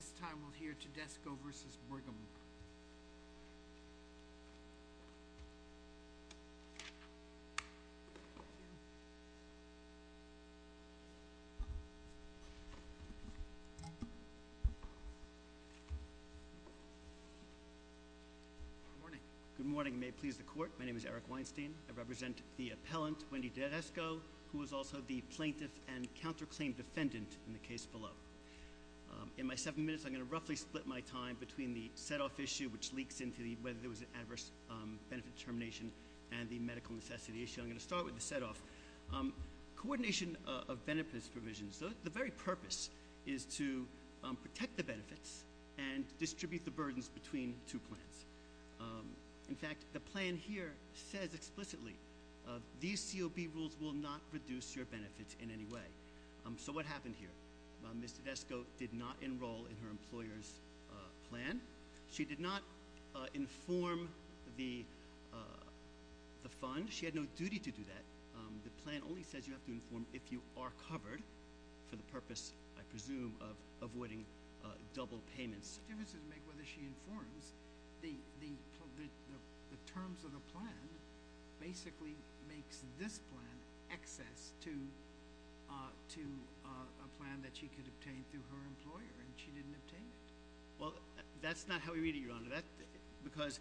This time we'll hear Tedesco v. Brigham. Good morning. May it please the court, my name is Eric Weinstein. I represent the appellant, Wendy Tedesco, who is also the plaintiff and counterclaim defendant in the case below. In my seven minutes, I'm going to roughly split my time between the set-off issue, which leaks into whether there was an adverse benefit determination, and the medical necessity issue. I'm going to start with the set-off. Coordination of benefits provisions. The very purpose is to protect the benefits and distribute the burdens between two plans. In fact, the plan here says explicitly, these COB rules will not reduce your benefits in any way. So what happened here? Ms. Tedesco did not enroll in her employer's plan. She did not inform the fund. She had no duty to do that. The plan only says you have to inform if you are covered for the purpose, I presume, of avoiding double payments. It makes no difference whether she informs. The terms of the plan basically makes this plan excess to a plan that she could obtain through her employer, and she didn't obtain it. Well, that's not how we read it, Your Honor. Because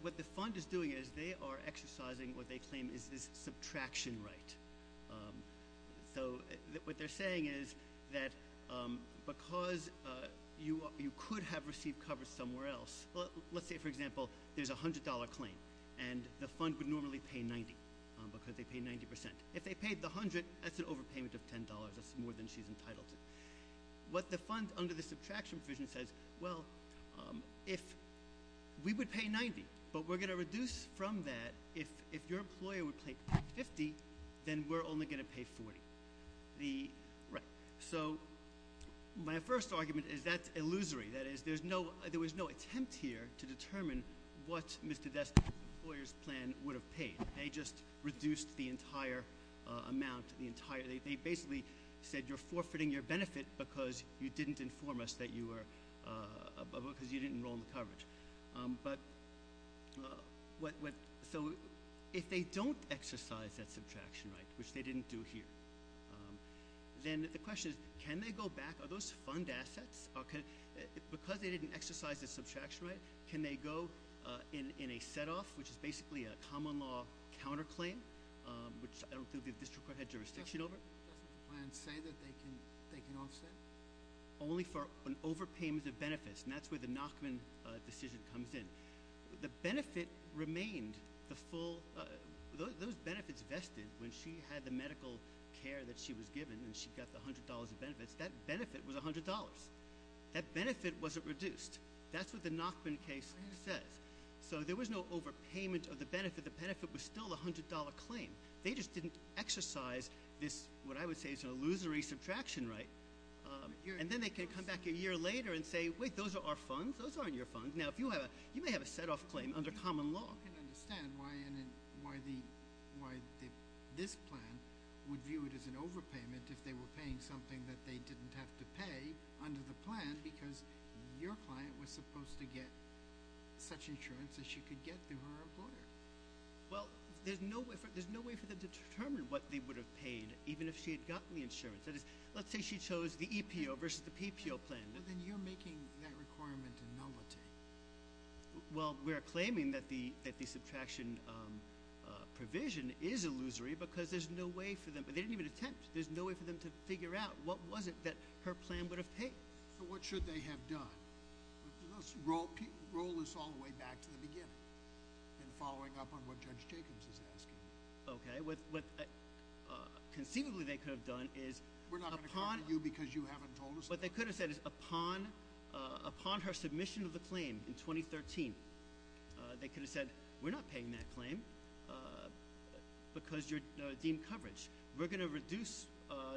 what the fund is doing is they are exercising what they claim is this subtraction right. So what they're saying is that because you could have received coverage somewhere else, let's say, for example, there's a $100 claim, and the fund would normally pay $90 because they pay 90%. If they paid the $100, that's an overpayment of $10. That's more than she's entitled to. What the fund, under the subtraction provision, says, well, we would pay $90, but we're going to reduce from that. If your employer would pay $50, then we're only going to pay $40. Right. So my first argument is that's illusory. That is, there was no attempt here to determine what Mr. Destler's employer's plan would have paid. They just reduced the entire amount. They basically said you're forfeiting your benefit because you didn't inform us that you were – because you didn't enroll in the coverage. But what – so if they don't exercise that subtraction right, which they didn't do here, then the question is can they go back? Are those fund assets? Because they didn't exercise the subtraction right, can they go in a set-off, which is basically a common law counterclaim, which I don't think the district court had jurisdiction over? Doesn't the plan say that they can offset? Only for an overpayment of benefits, and that's where the Nachman decision comes in. The benefit remained the full – those benefits vested when she had the medical care that she was given and she got the $100 of benefits, that benefit was $100. That benefit wasn't reduced. That's what the Nachman case says. So there was no overpayment of the benefit. The benefit was still the $100 claim. They just didn't exercise this, what I would say is an illusory subtraction right. And then they can come back a year later and say, wait, those are our funds. Those aren't your funds. Now, if you have a – you may have a set-off claim under common law. I don't understand why this plan would view it as an overpayment if they were paying something that they didn't have to pay under the plan because your client was supposed to get such insurance that she could get through her employer. Well, there's no way for them to determine what they would have paid even if she had gotten the insurance. That is, let's say she chose the EPO versus the PPO plan. But then you're making that requirement a nullity. Well, we are claiming that the subtraction provision is illusory because there's no way for them – but they didn't even attempt. There's no way for them to figure out what was it that her plan would have paid. So what should they have done? Let's roll this all the way back to the beginning and following up on what Judge Jacobs is asking. Okay. What conceivably they could have done is upon – We're not going to come to you because you haven't told us that. What they could have said is upon her submission of the claim in 2013, they could have said, we're not paying that claim because you're deemed coverage. We're going to reduce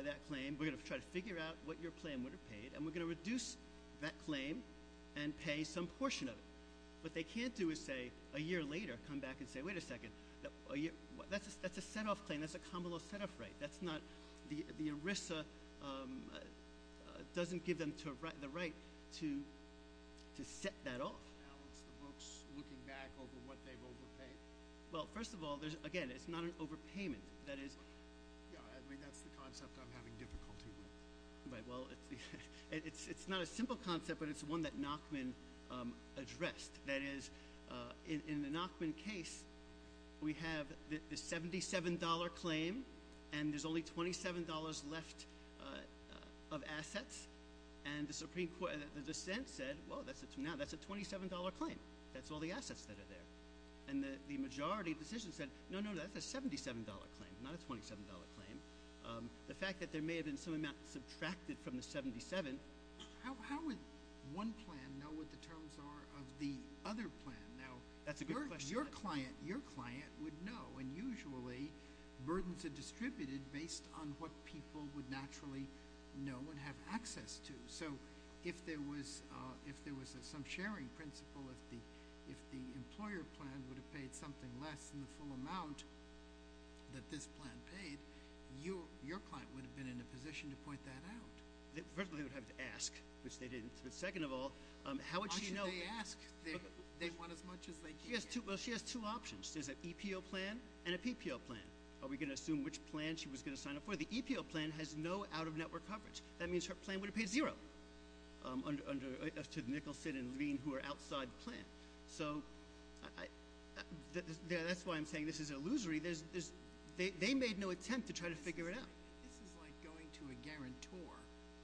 that claim. We're going to try to figure out what your plan would have paid. And we're going to reduce that claim and pay some portion of it. What they can't do is say a year later, come back and say, wait a second, that's a set-off claim. That's a common law set-off right. That's not – the ERISA doesn't give them the right to set that off. Now it's the books looking back over what they've overpaid. Well, first of all, again, it's not an overpayment. That is – Yeah, I mean, that's the concept I'm having difficulty with. Right. Well, it's not a simple concept, but it's one that Nachman addressed. That is, in the Nachman case, we have the $77 claim and there's only $27 left of assets. And the Supreme Court – the dissent said, well, that's a – now that's a $27 claim. That's all the assets that are there. And the majority decision said, no, no, that's a $77 claim, not a $27 claim. The fact that there may have been some amount subtracted from the $77 – How would one plan know what the terms are of the other plan? Now – That's a good question. Your client would know. And usually, burdens are distributed based on what people would naturally know and have access to. So if there was some sharing principle, if the employer plan would have paid something less than the full amount that this plan paid, your client would have been in a position to point that out. First of all, they would have to ask, which they didn't. But second of all, how would she know? Why should they ask? They want as much as they can. Well, she has two options. There's an EPO plan and a PPO plan. Are we going to assume which plan she was going to sign up for? The EPO plan has no out-of-network coverage. That means her plan would have paid zero to Nicholson and Levine, who are outside the plan. So that's why I'm saying this is illusory. They made no attempt to try to figure it out. This is like going to a guarantor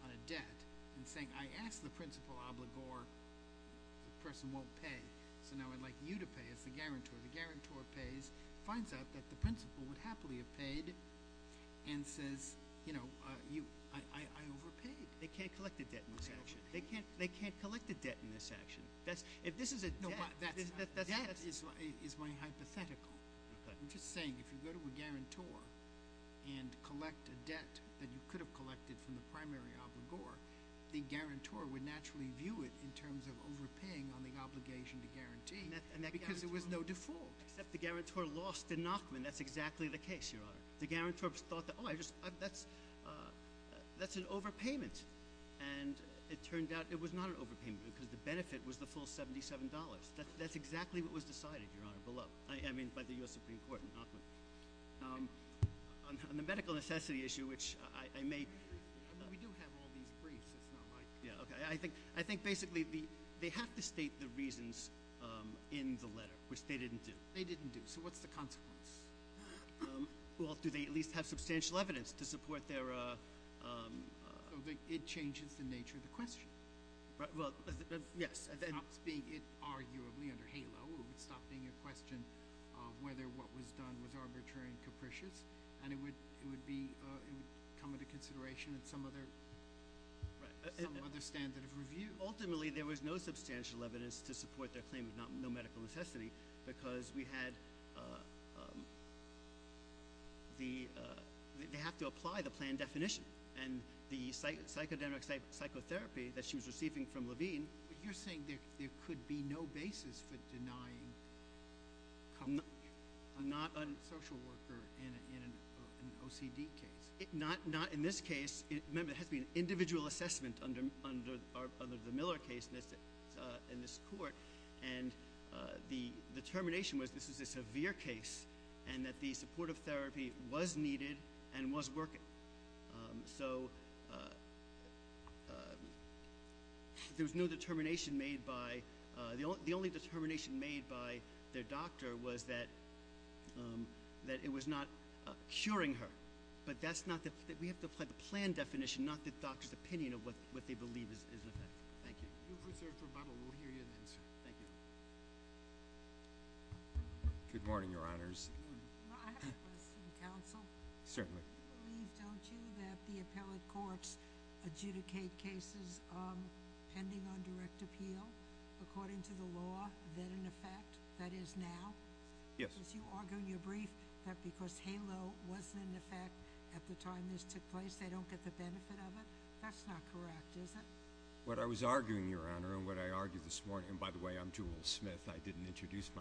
on a debt and saying, I asked the principal obligor, the person won't pay, so now I'd like you to pay as the guarantor. The guarantor pays, finds out that the principal would happily have paid, and says, you know, I overpaid. They can't collect a debt in this action. They can't collect a debt in this action. If this is a debt, that's— Debt is my hypothetical. I'm just saying if you go to a guarantor and collect a debt that you could have collected from the primary obligor, the guarantor would naturally view it in terms of overpaying on the obligation to guarantee, because there was no default. Except the guarantor lost to Nachman. That's exactly the case, Your Honor. The guarantor thought, oh, that's an overpayment. And it turned out it was not an overpayment because the benefit was the full $77. That's exactly what was decided, Your Honor, below—I mean, by the U.S. Supreme Court and Nachman. On the medical necessity issue, which I may— We do have all these briefs. It's not like— Yeah, okay. I think basically they have to state the reasons in the letter, which they didn't do. They didn't do. So what's the consequence? Well, do they at least have substantial evidence to support their— It changes the nature of the question. Well, yes. It stops being, arguably, under HALO. It would stop being a question of whether what was done was arbitrary and capricious, and it would come into consideration in some other standard of review. Ultimately, there was no substantial evidence to support their claim of no medical necessity because we had—they have to apply the plan definition. And the psychodemic psychotherapy that she was receiving from Levine— Not in this case. Remember, it has to be an individual assessment under the Miller case in this court. And the determination was this is a severe case and that the supportive therapy was needed and was working. So there was no determination made by— The only determination made by their doctor was that it was not curing her. But that's not—we have to apply the plan definition, not the doctor's opinion of what they believe is effective. Thank you. You've reserved your Bible. We'll hear you then, sir. Thank you. Good morning, Your Honors. Good morning. I have a question, Counsel. Certainly. You believe, don't you, that the appellate courts adjudicate cases pending on direct appeal according to the law, then in effect, that is now? Yes. You argue in your brief that because HALO was in effect at the time this took place, they don't get the benefit of it. That's not correct, is it? What I was arguing, Your Honor, and what I argued this morning—and by the way, I'm Jewel Smith. I didn't introduce myself.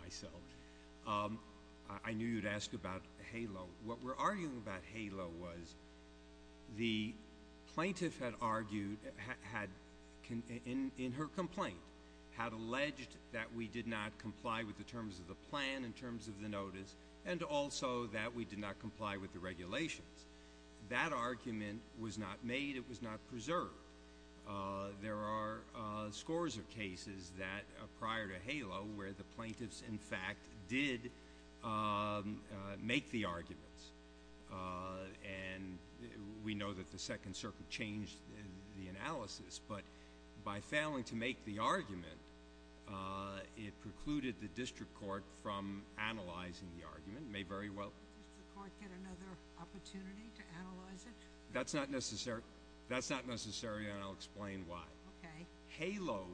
I knew you'd ask about HALO. What we're arguing about HALO was the plaintiff had argued in her complaint, had alleged that we did not comply with the terms of the plan, in terms of the notice, and also that we did not comply with the regulations. That argument was not made. It was not preserved. There are scores of cases prior to HALO where the plaintiffs, in fact, did make the arguments. And we know that the Second Circuit changed the analysis. But by failing to make the argument, it precluded the district court from analyzing the argument. It may very well— Did the district court get another opportunity to analyze it? That's not necessary, and I'll explain why. HALO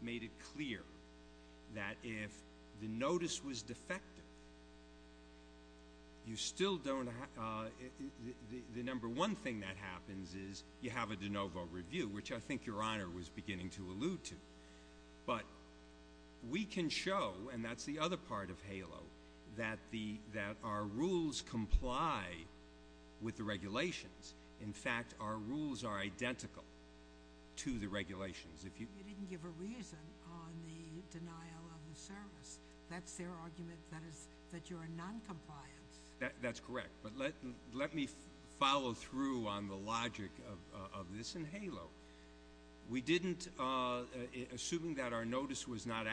made it clear that if the notice was defective, you still don't— the number one thing that happens is you have a de novo review, which I think Your Honor was beginning to allude to. But we can show, and that's the other part of HALO, that our rules comply with the regulations. In fact, our rules are identical to the regulations. You didn't give a reason on the denial of the service. That's their argument, that you're in noncompliance. That's correct. But let me follow through on the logic of this in HALO. We didn't, assuming that our notice was not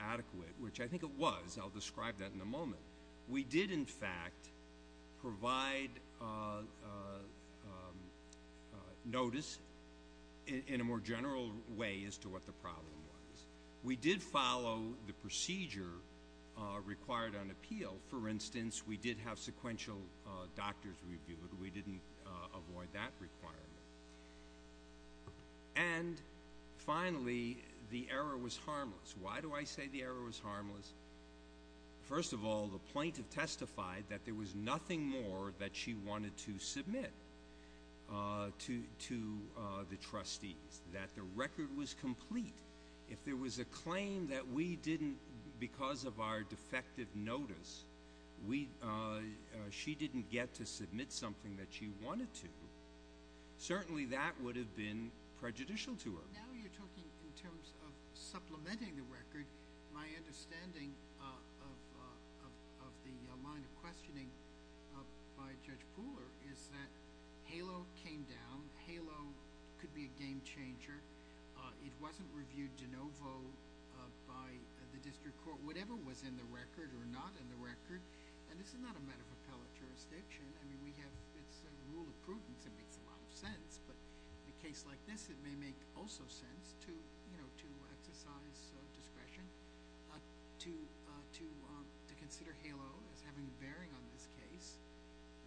adequate, which I think it was. I'll describe that in a moment. We did, in fact, provide notice in a more general way as to what the problem was. We did follow the procedure required on appeal. For instance, we did have sequential doctors reviewed. We didn't avoid that requirement. And finally, the error was harmless. Why do I say the error was harmless? First of all, the plaintiff testified that there was nothing more that she wanted to submit to the trustees, that the record was complete. If there was a claim that we didn't, because of our defective notice, she didn't get to submit something that she wanted to, certainly that would have been prejudicial to her. Now you're talking in terms of supplementing the record. My understanding of the line of questioning by Judge Pooler is that HALO came down. HALO could be a game changer. It wasn't reviewed de novo by the district court, whatever was in the record or not in the record. And this is not a matter of appellate jurisdiction. I mean, it's a rule of prudence. It makes a lot of sense. But in a case like this, it may make also sense to exercise discretion, to consider HALO as having a bearing on this case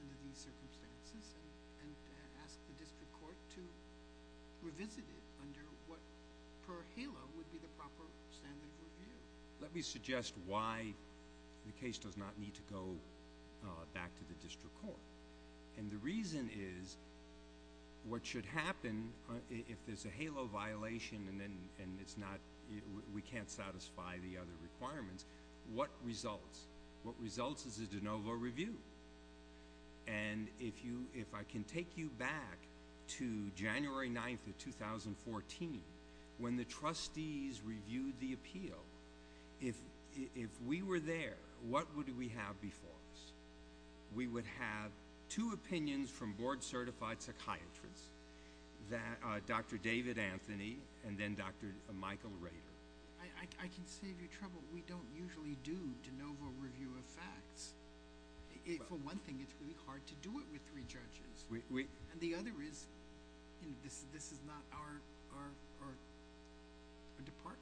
under these circumstances and ask the district court to revisit it under what per HALO would be the proper standard of review. Let me suggest why the case does not need to go back to the district court. And the reason is what should happen if there's a HALO violation and we can't satisfy the other requirements, what results? What results is a de novo review. And if I can take you back to January 9th of 2014, when the trustees reviewed the appeal, if we were there, what would we have before us? We would have two opinions from board-certified psychiatrists, Dr. David Anthony and then Dr. Michael Rader. I can save you trouble. We don't usually do de novo review of facts. For one thing, it's really hard to do it with three judges. And the other is this is not our department.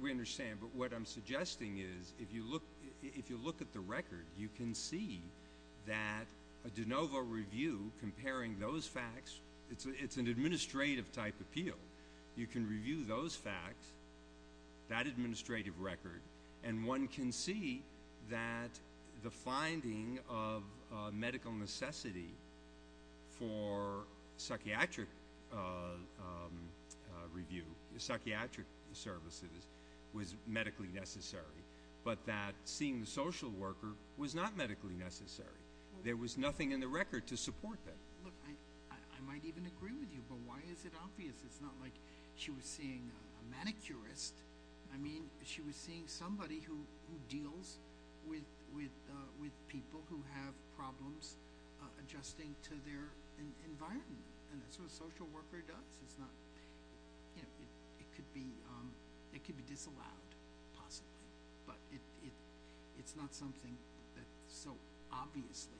We understand. But what I'm suggesting is if you look at the record, you can see that a de novo review comparing those facts, it's an administrative-type appeal. You can review those facts, that administrative record, and one can see that the finding of medical necessity for psychiatric review, psychiatric services, was medically necessary. But that seeing the social worker was not medically necessary. There was nothing in the record to support that. Look, I might even agree with you, but why is it obvious? It's not like she was seeing a manicurist. I mean, she was seeing somebody who deals with people who have problems adjusting to their environment. And that's what a social worker does. It's not – it could be disallowed, possibly. But it's not something that's so obviously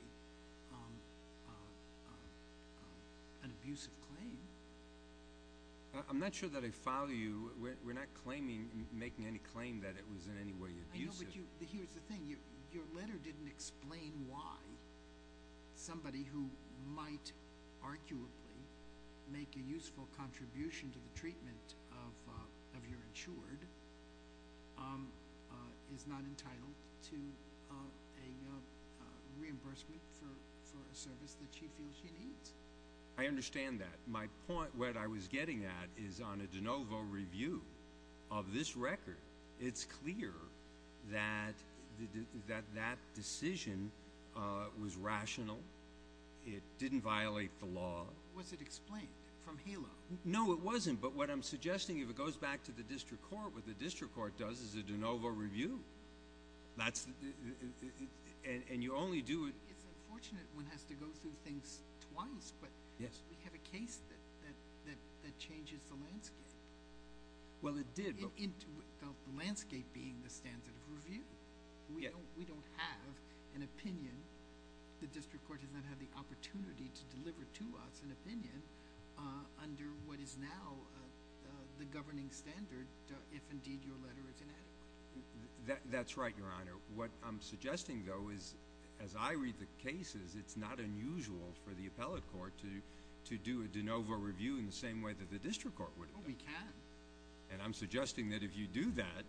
an abusive claim. I'm not sure that I follow you. We're not claiming – making any claim that it was in any way abusive. I know, but here's the thing. Your letter didn't explain why somebody who might arguably make a useful contribution to the treatment of your insured is not entitled to a reimbursement for a service that she feels she needs. I understand that. My point, what I was getting at, is on a de novo review of this record, it's clear that that decision was rational. It didn't violate the law. Was it explained from HALO? No, it wasn't. But what I'm suggesting, if it goes back to the district court, what the district court does is a de novo review. That's – and you only do – It's unfortunate one has to go through things twice, but we have a case that changes the landscape. Well, it did. The landscape being the standard of review. We don't have an opinion. The district court has not had the opportunity to deliver to us an opinion under what is now the governing standard, if indeed your letter is inadequate. That's right, Your Honor. What I'm suggesting, though, is as I read the cases, it's not unusual for the appellate court to do a de novo review in the same way that the district court would have done. Oh, we can. And I'm suggesting that if you do that,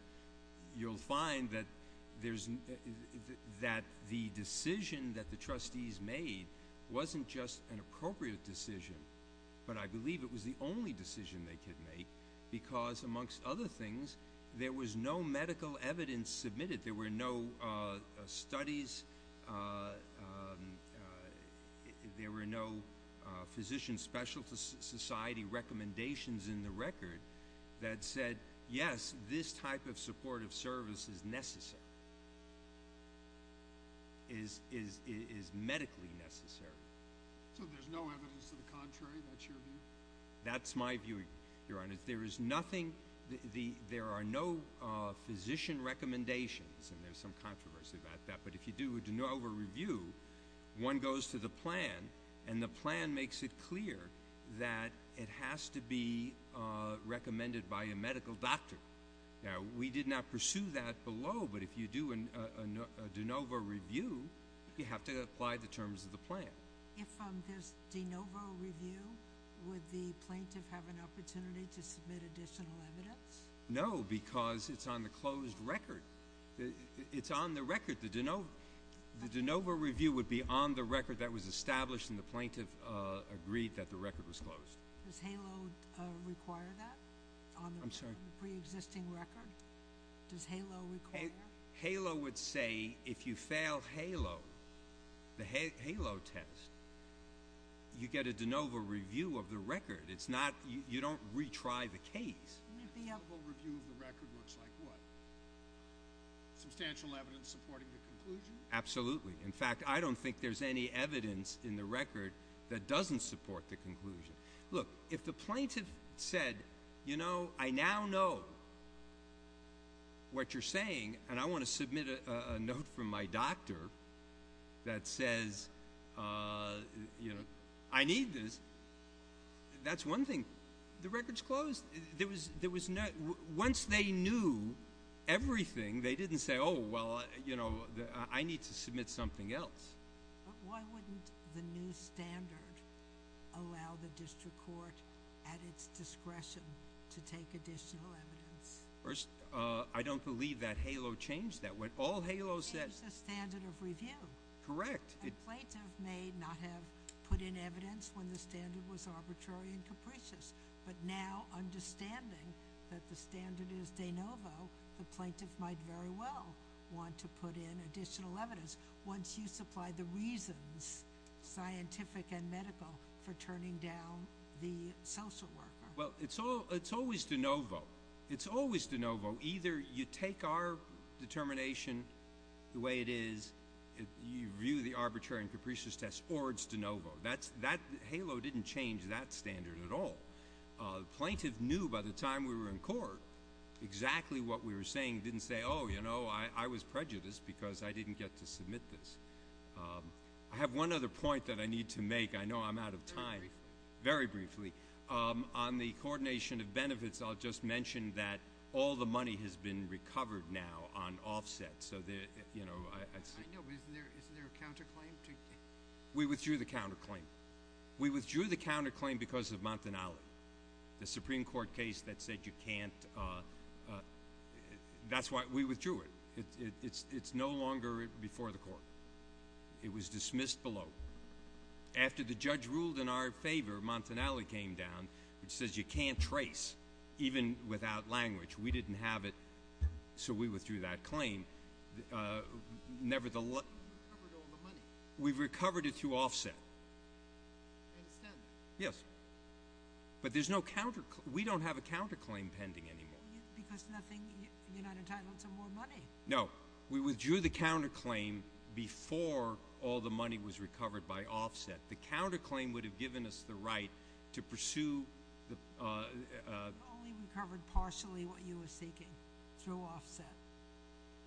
you'll find that there's – that the decision that the trustees made wasn't just an appropriate decision, but I believe it was the only decision they could make because, amongst other things, there was no medical evidence submitted. There were no studies. There were no Physician Specialist Society recommendations in the record that said, yes, this type of supportive service is necessary, is medically necessary. So there's no evidence to the contrary? That's your view? That's my view, Your Honor. There is nothing – there are no physician recommendations, and there's some controversy about that. But if you do a de novo review, one goes to the plan, and the plan makes it clear that it has to be recommended by a medical doctor. Now, we did not pursue that below, but if you do a de novo review, you have to apply the terms of the plan. If there's de novo review, would the plaintiff have an opportunity to submit additional evidence? No, because it's on the closed record. It's on the record. The de novo review would be on the record that was established, and the plaintiff agreed that the record was closed. Does HALO require that on the preexisting record? I'm sorry? Does HALO require that? HALO would say if you fail HALO, the HALO test, you get a de novo review of the record. It's not – you don't retry the case. A de novo review of the record looks like what? Substantial evidence supporting the conclusion? Absolutely. In fact, I don't think there's any evidence in the record that doesn't support the conclusion. Look, if the plaintiff said, you know, I now know what you're saying, and I want to submit a note from my doctor that says, you know, I need this, that's one thing. The record's closed. Once they knew everything, they didn't say, oh, well, you know, I need to submit something else. But why wouldn't the new standard allow the district court at its discretion to take additional evidence? First, I don't believe that HALO changed that. When all HALO says – It changed the standard of review. Correct. A plaintiff may not have put in evidence when the standard was arbitrary and capricious, but now understanding that the standard is de novo, the plaintiff might very well want to put in additional evidence. Once you supply the reasons, scientific and medical, for turning down the social worker. Well, it's always de novo. It's always de novo. Either you take our determination the way it is, you view the arbitrary and capricious test, or it's de novo. HALO didn't change that standard at all. The plaintiff knew by the time we were in court exactly what we were saying. Didn't say, oh, you know, I was prejudiced because I didn't get to submit this. I have one other point that I need to make. I know I'm out of time. Very briefly. Very briefly. On the coordination of benefits, I'll just mention that all the money has been recovered now on offset. I know, but isn't there a counterclaim? We withdrew the counterclaim. We withdrew the counterclaim because of Montanale. The Supreme Court case that said you can't, that's why we withdrew it. It's no longer before the court. It was dismissed below. After the judge ruled in our favor, Montanale came down, which says you can't trace, even without language. We didn't have it, so we withdrew that claim. Nevertheless- We recovered all the money. We've recovered it through offset. I understand that. Yes. But there's no counterclaim. We don't have a counterclaim pending anymore. Because nothing, you're not entitled to more money. No. We withdrew the counterclaim before all the money was recovered by offset. The counterclaim would have given us the right to pursue the- You only recovered partially what you were seeking through offset.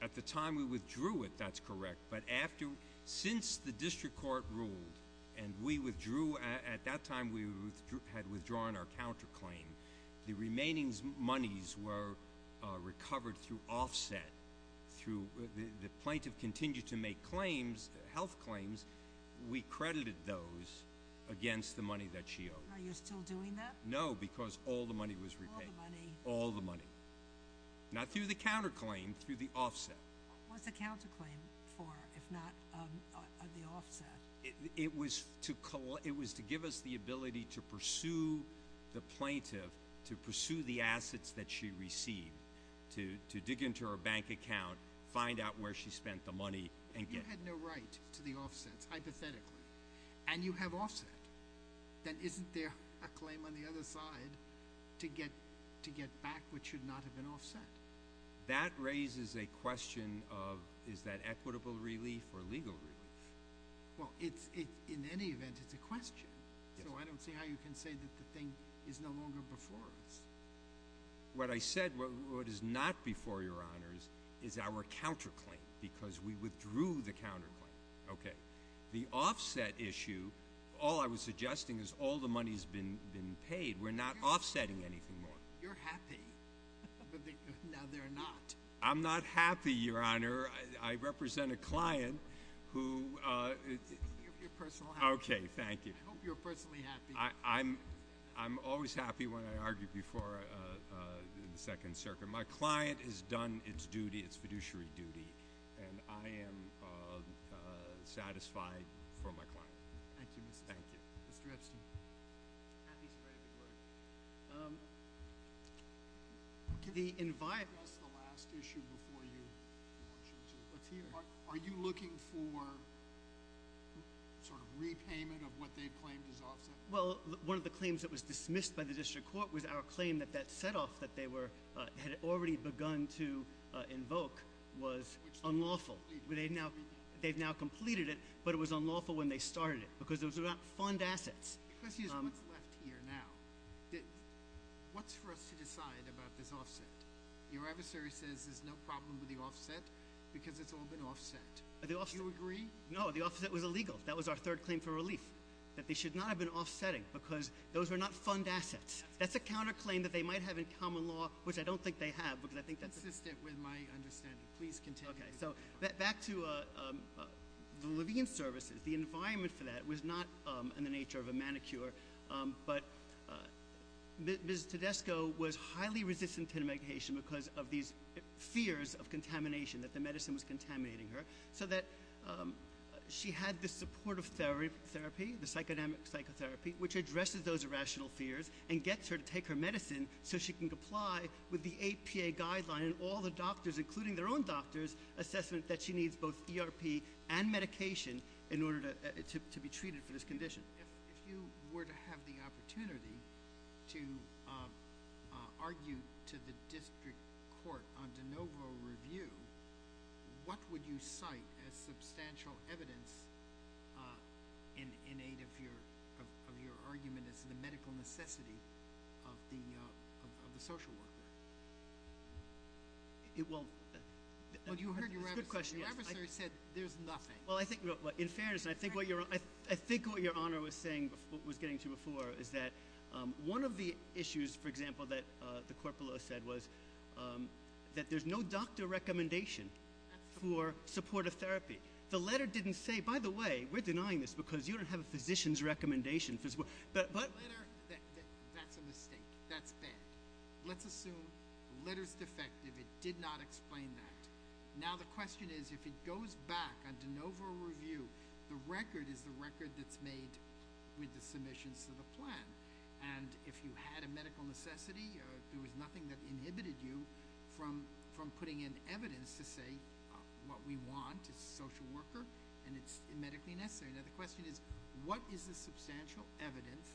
At the time we withdrew it, that's correct. But after, since the district court ruled and we withdrew, at that time we had withdrawn our counterclaim. The remaining monies were recovered through offset. Through, the plaintiff continued to make claims, health claims. We credited those against the money that she owed. Are you still doing that? No, because all the money was repaid. All the money. All the money. Not through the counterclaim, through the offset. What's the counterclaim for, if not the offset? It was to give us the ability to pursue the plaintiff, to pursue the assets that she received, to dig into her bank account, find out where she spent the money, and get- If you had no right to the offsets, hypothetically, and you have offset, then isn't there a claim on the other side to get back what should not have been offset? That raises a question of, is that equitable relief or legal relief? Well, in any event, it's a question. So I don't see how you can say that the thing is no longer before us. What I said, what is not before your honors, is our counterclaim, because we withdrew the counterclaim. Okay. The offset issue, all I was suggesting is all the money's been paid. We're not offsetting anything more. You're happy. Now they're not. I'm not happy, your honor. I represent a client who- Your personal happiness. Okay, thank you. I hope you're personally happy. I'm always happy when I argue before the second circuit. My client has done its fiduciary duty, and I am satisfied for my client. Thank you, Mr. Epstein. Thank you. Mr. Epstein. Happy to spread a good word. Can you address the last issue before you launch into a team? Are you looking for sort of repayment of what they've claimed is offset? Well, one of the claims that was dismissed by the district court was our claim that that setoff that they had already begun to invoke was unlawful. Which they've now completed. They've now completed it, but it was unlawful when they started it because it was about fund assets. The question is what's left here now. What's for us to decide about this offset? Your adversary says there's no problem with the offset because it's all been offset. Do you agree? No, the offset was illegal. That was our third claim for relief, that they should not have been offsetting because those were not fund assets. That's a counterclaim that they might have in common law, which I don't think they have because I think that's- Consistent with my understanding. Please continue. Okay. So back to the Levine services, the environment for that was not in the nature of a manicure. But Ms. Tedesco was highly resistant to medication because of these fears of contamination, that the medicine was contaminating her. So that she had this supportive therapy, the psychodemic psychotherapy, which addresses those irrational fears and gets her to take her medicine so she can comply with the APA guideline. And all the doctors, including their own doctors, assessment that she needs both ERP and medication in order to be treated for this condition. If you were to have the opportunity to argue to the district court on de novo review, what would you cite as substantial evidence in aid of your argument as the medical necessity of the social worker? Well, that's a good question. Your adversary said there's nothing. Well, in fairness, I think what Your Honor was getting to before is that one of the issues, for example, that the corporal said was that there's no doctor recommendation for supportive therapy. The letter didn't say, by the way, we're denying this because you don't have a physician's recommendation. But the letter, that's a mistake. That's bad. Let's assume the letter's defective. It did not explain that. Now the question is if it goes back on de novo review, the record is the record that's made with the submissions to the plan. And if you had a medical necessity, there was nothing that inhibited you from putting in evidence to say what we want, a social worker, and it's medically necessary. Now the question is what is the substantial evidence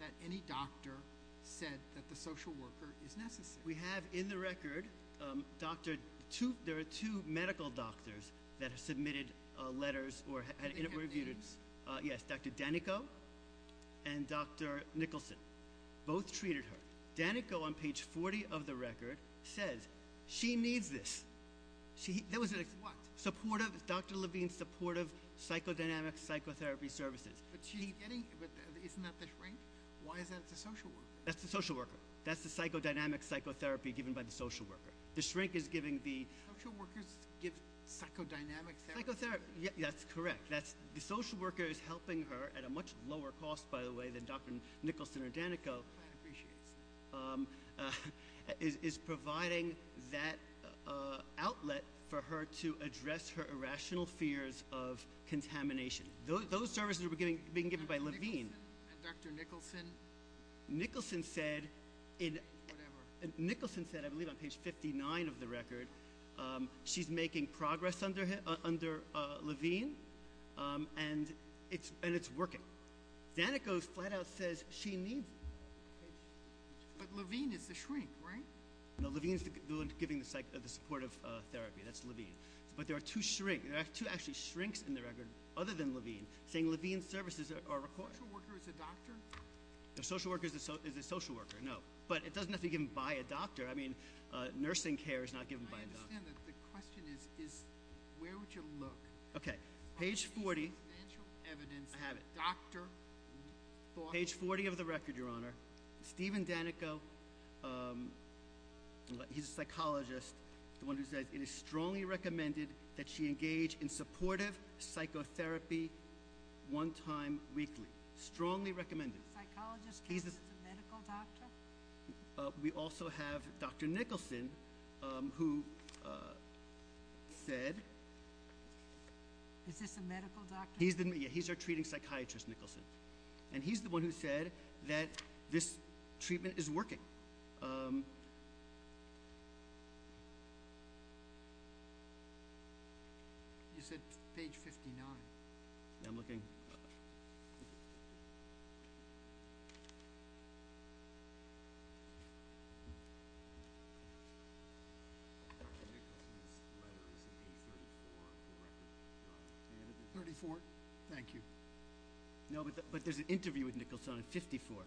that any doctor said that the social worker is necessary? We have in the record, there are two medical doctors that have submitted letters. They have names? Yes, Dr. Danico and Dr. Nicholson. Both treated her. Danico on page 40 of the record says she needs this. What? Dr. Levine's supportive psychodynamic psychotherapy services. But isn't that the shrink? Why is that it's a social worker? That's the social worker. That's the psychodynamic psychotherapy given by the social worker. The shrink is giving the ‑‑ Social workers give psychodynamic therapy? That's correct. The social worker is helping her at a much lower cost, by the way, than Dr. Nicholson or Danico. The plan appreciates that. Is providing that outlet for her to address her irrational fears of contamination. Those services are being given by Levine. And Dr. Nicholson? Nicholson said in ‑‑ Whatever. Nicholson said, I believe on page 59 of the record, she's making progress under Levine. And it's working. Danico flat out says she needs it. But Levine is the shrink, right? No, Levine is the one giving the supportive therapy. That's Levine. But there are two actually shrinks in the record, other than Levine, saying Levine's services are required. The social worker is a doctor? The social worker is a social worker, no. But it doesn't have to be given by a doctor. I mean, nursing care is not given by a doctor. I understand that. The question is where would you look? Okay. Page 40. I have it. Page 40 of the record, your honor. Stephen Danico, he's a psychologist, the one who says it is strongly recommended that she engage in supportive psychotherapy one time weekly. Strongly recommended. Psychologist, a medical doctor? We also have Dr. Nicholson who said. Is this a medical doctor? Yeah, he's our treating psychiatrist, Nicholson. And he's the one who said that this treatment is working. You said page 59. I'm looking. 34. Thank you. No, but there's an interview with Nicholson on 54.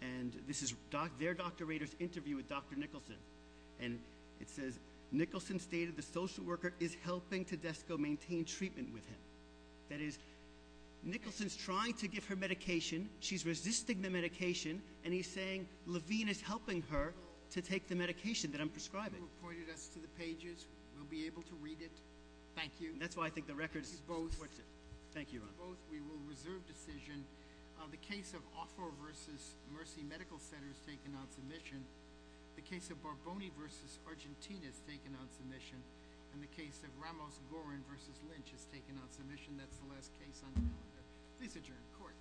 And this is their doctorator's interview with Dr. Nicholson. And it says Nicholson stated the social worker is helping Tedesco maintain treatment with him. That is, Nicholson is trying to give her medication, she's resisting the medication, and he's saying Levine is helping her to take the medication that I'm prescribing. Pointed us to the pages. We'll be able to read it. Thank you. That's why I think the record supports it. Thank you both. We will reserve decision. The case of Offo versus Mercy Medical Center has taken on submission. The case of Barboni versus Argentina has taken on submission. And the case of Ramos-Gorin versus Lynch has taken on submission. That's the last case on the calendar. Please adjourn. Court.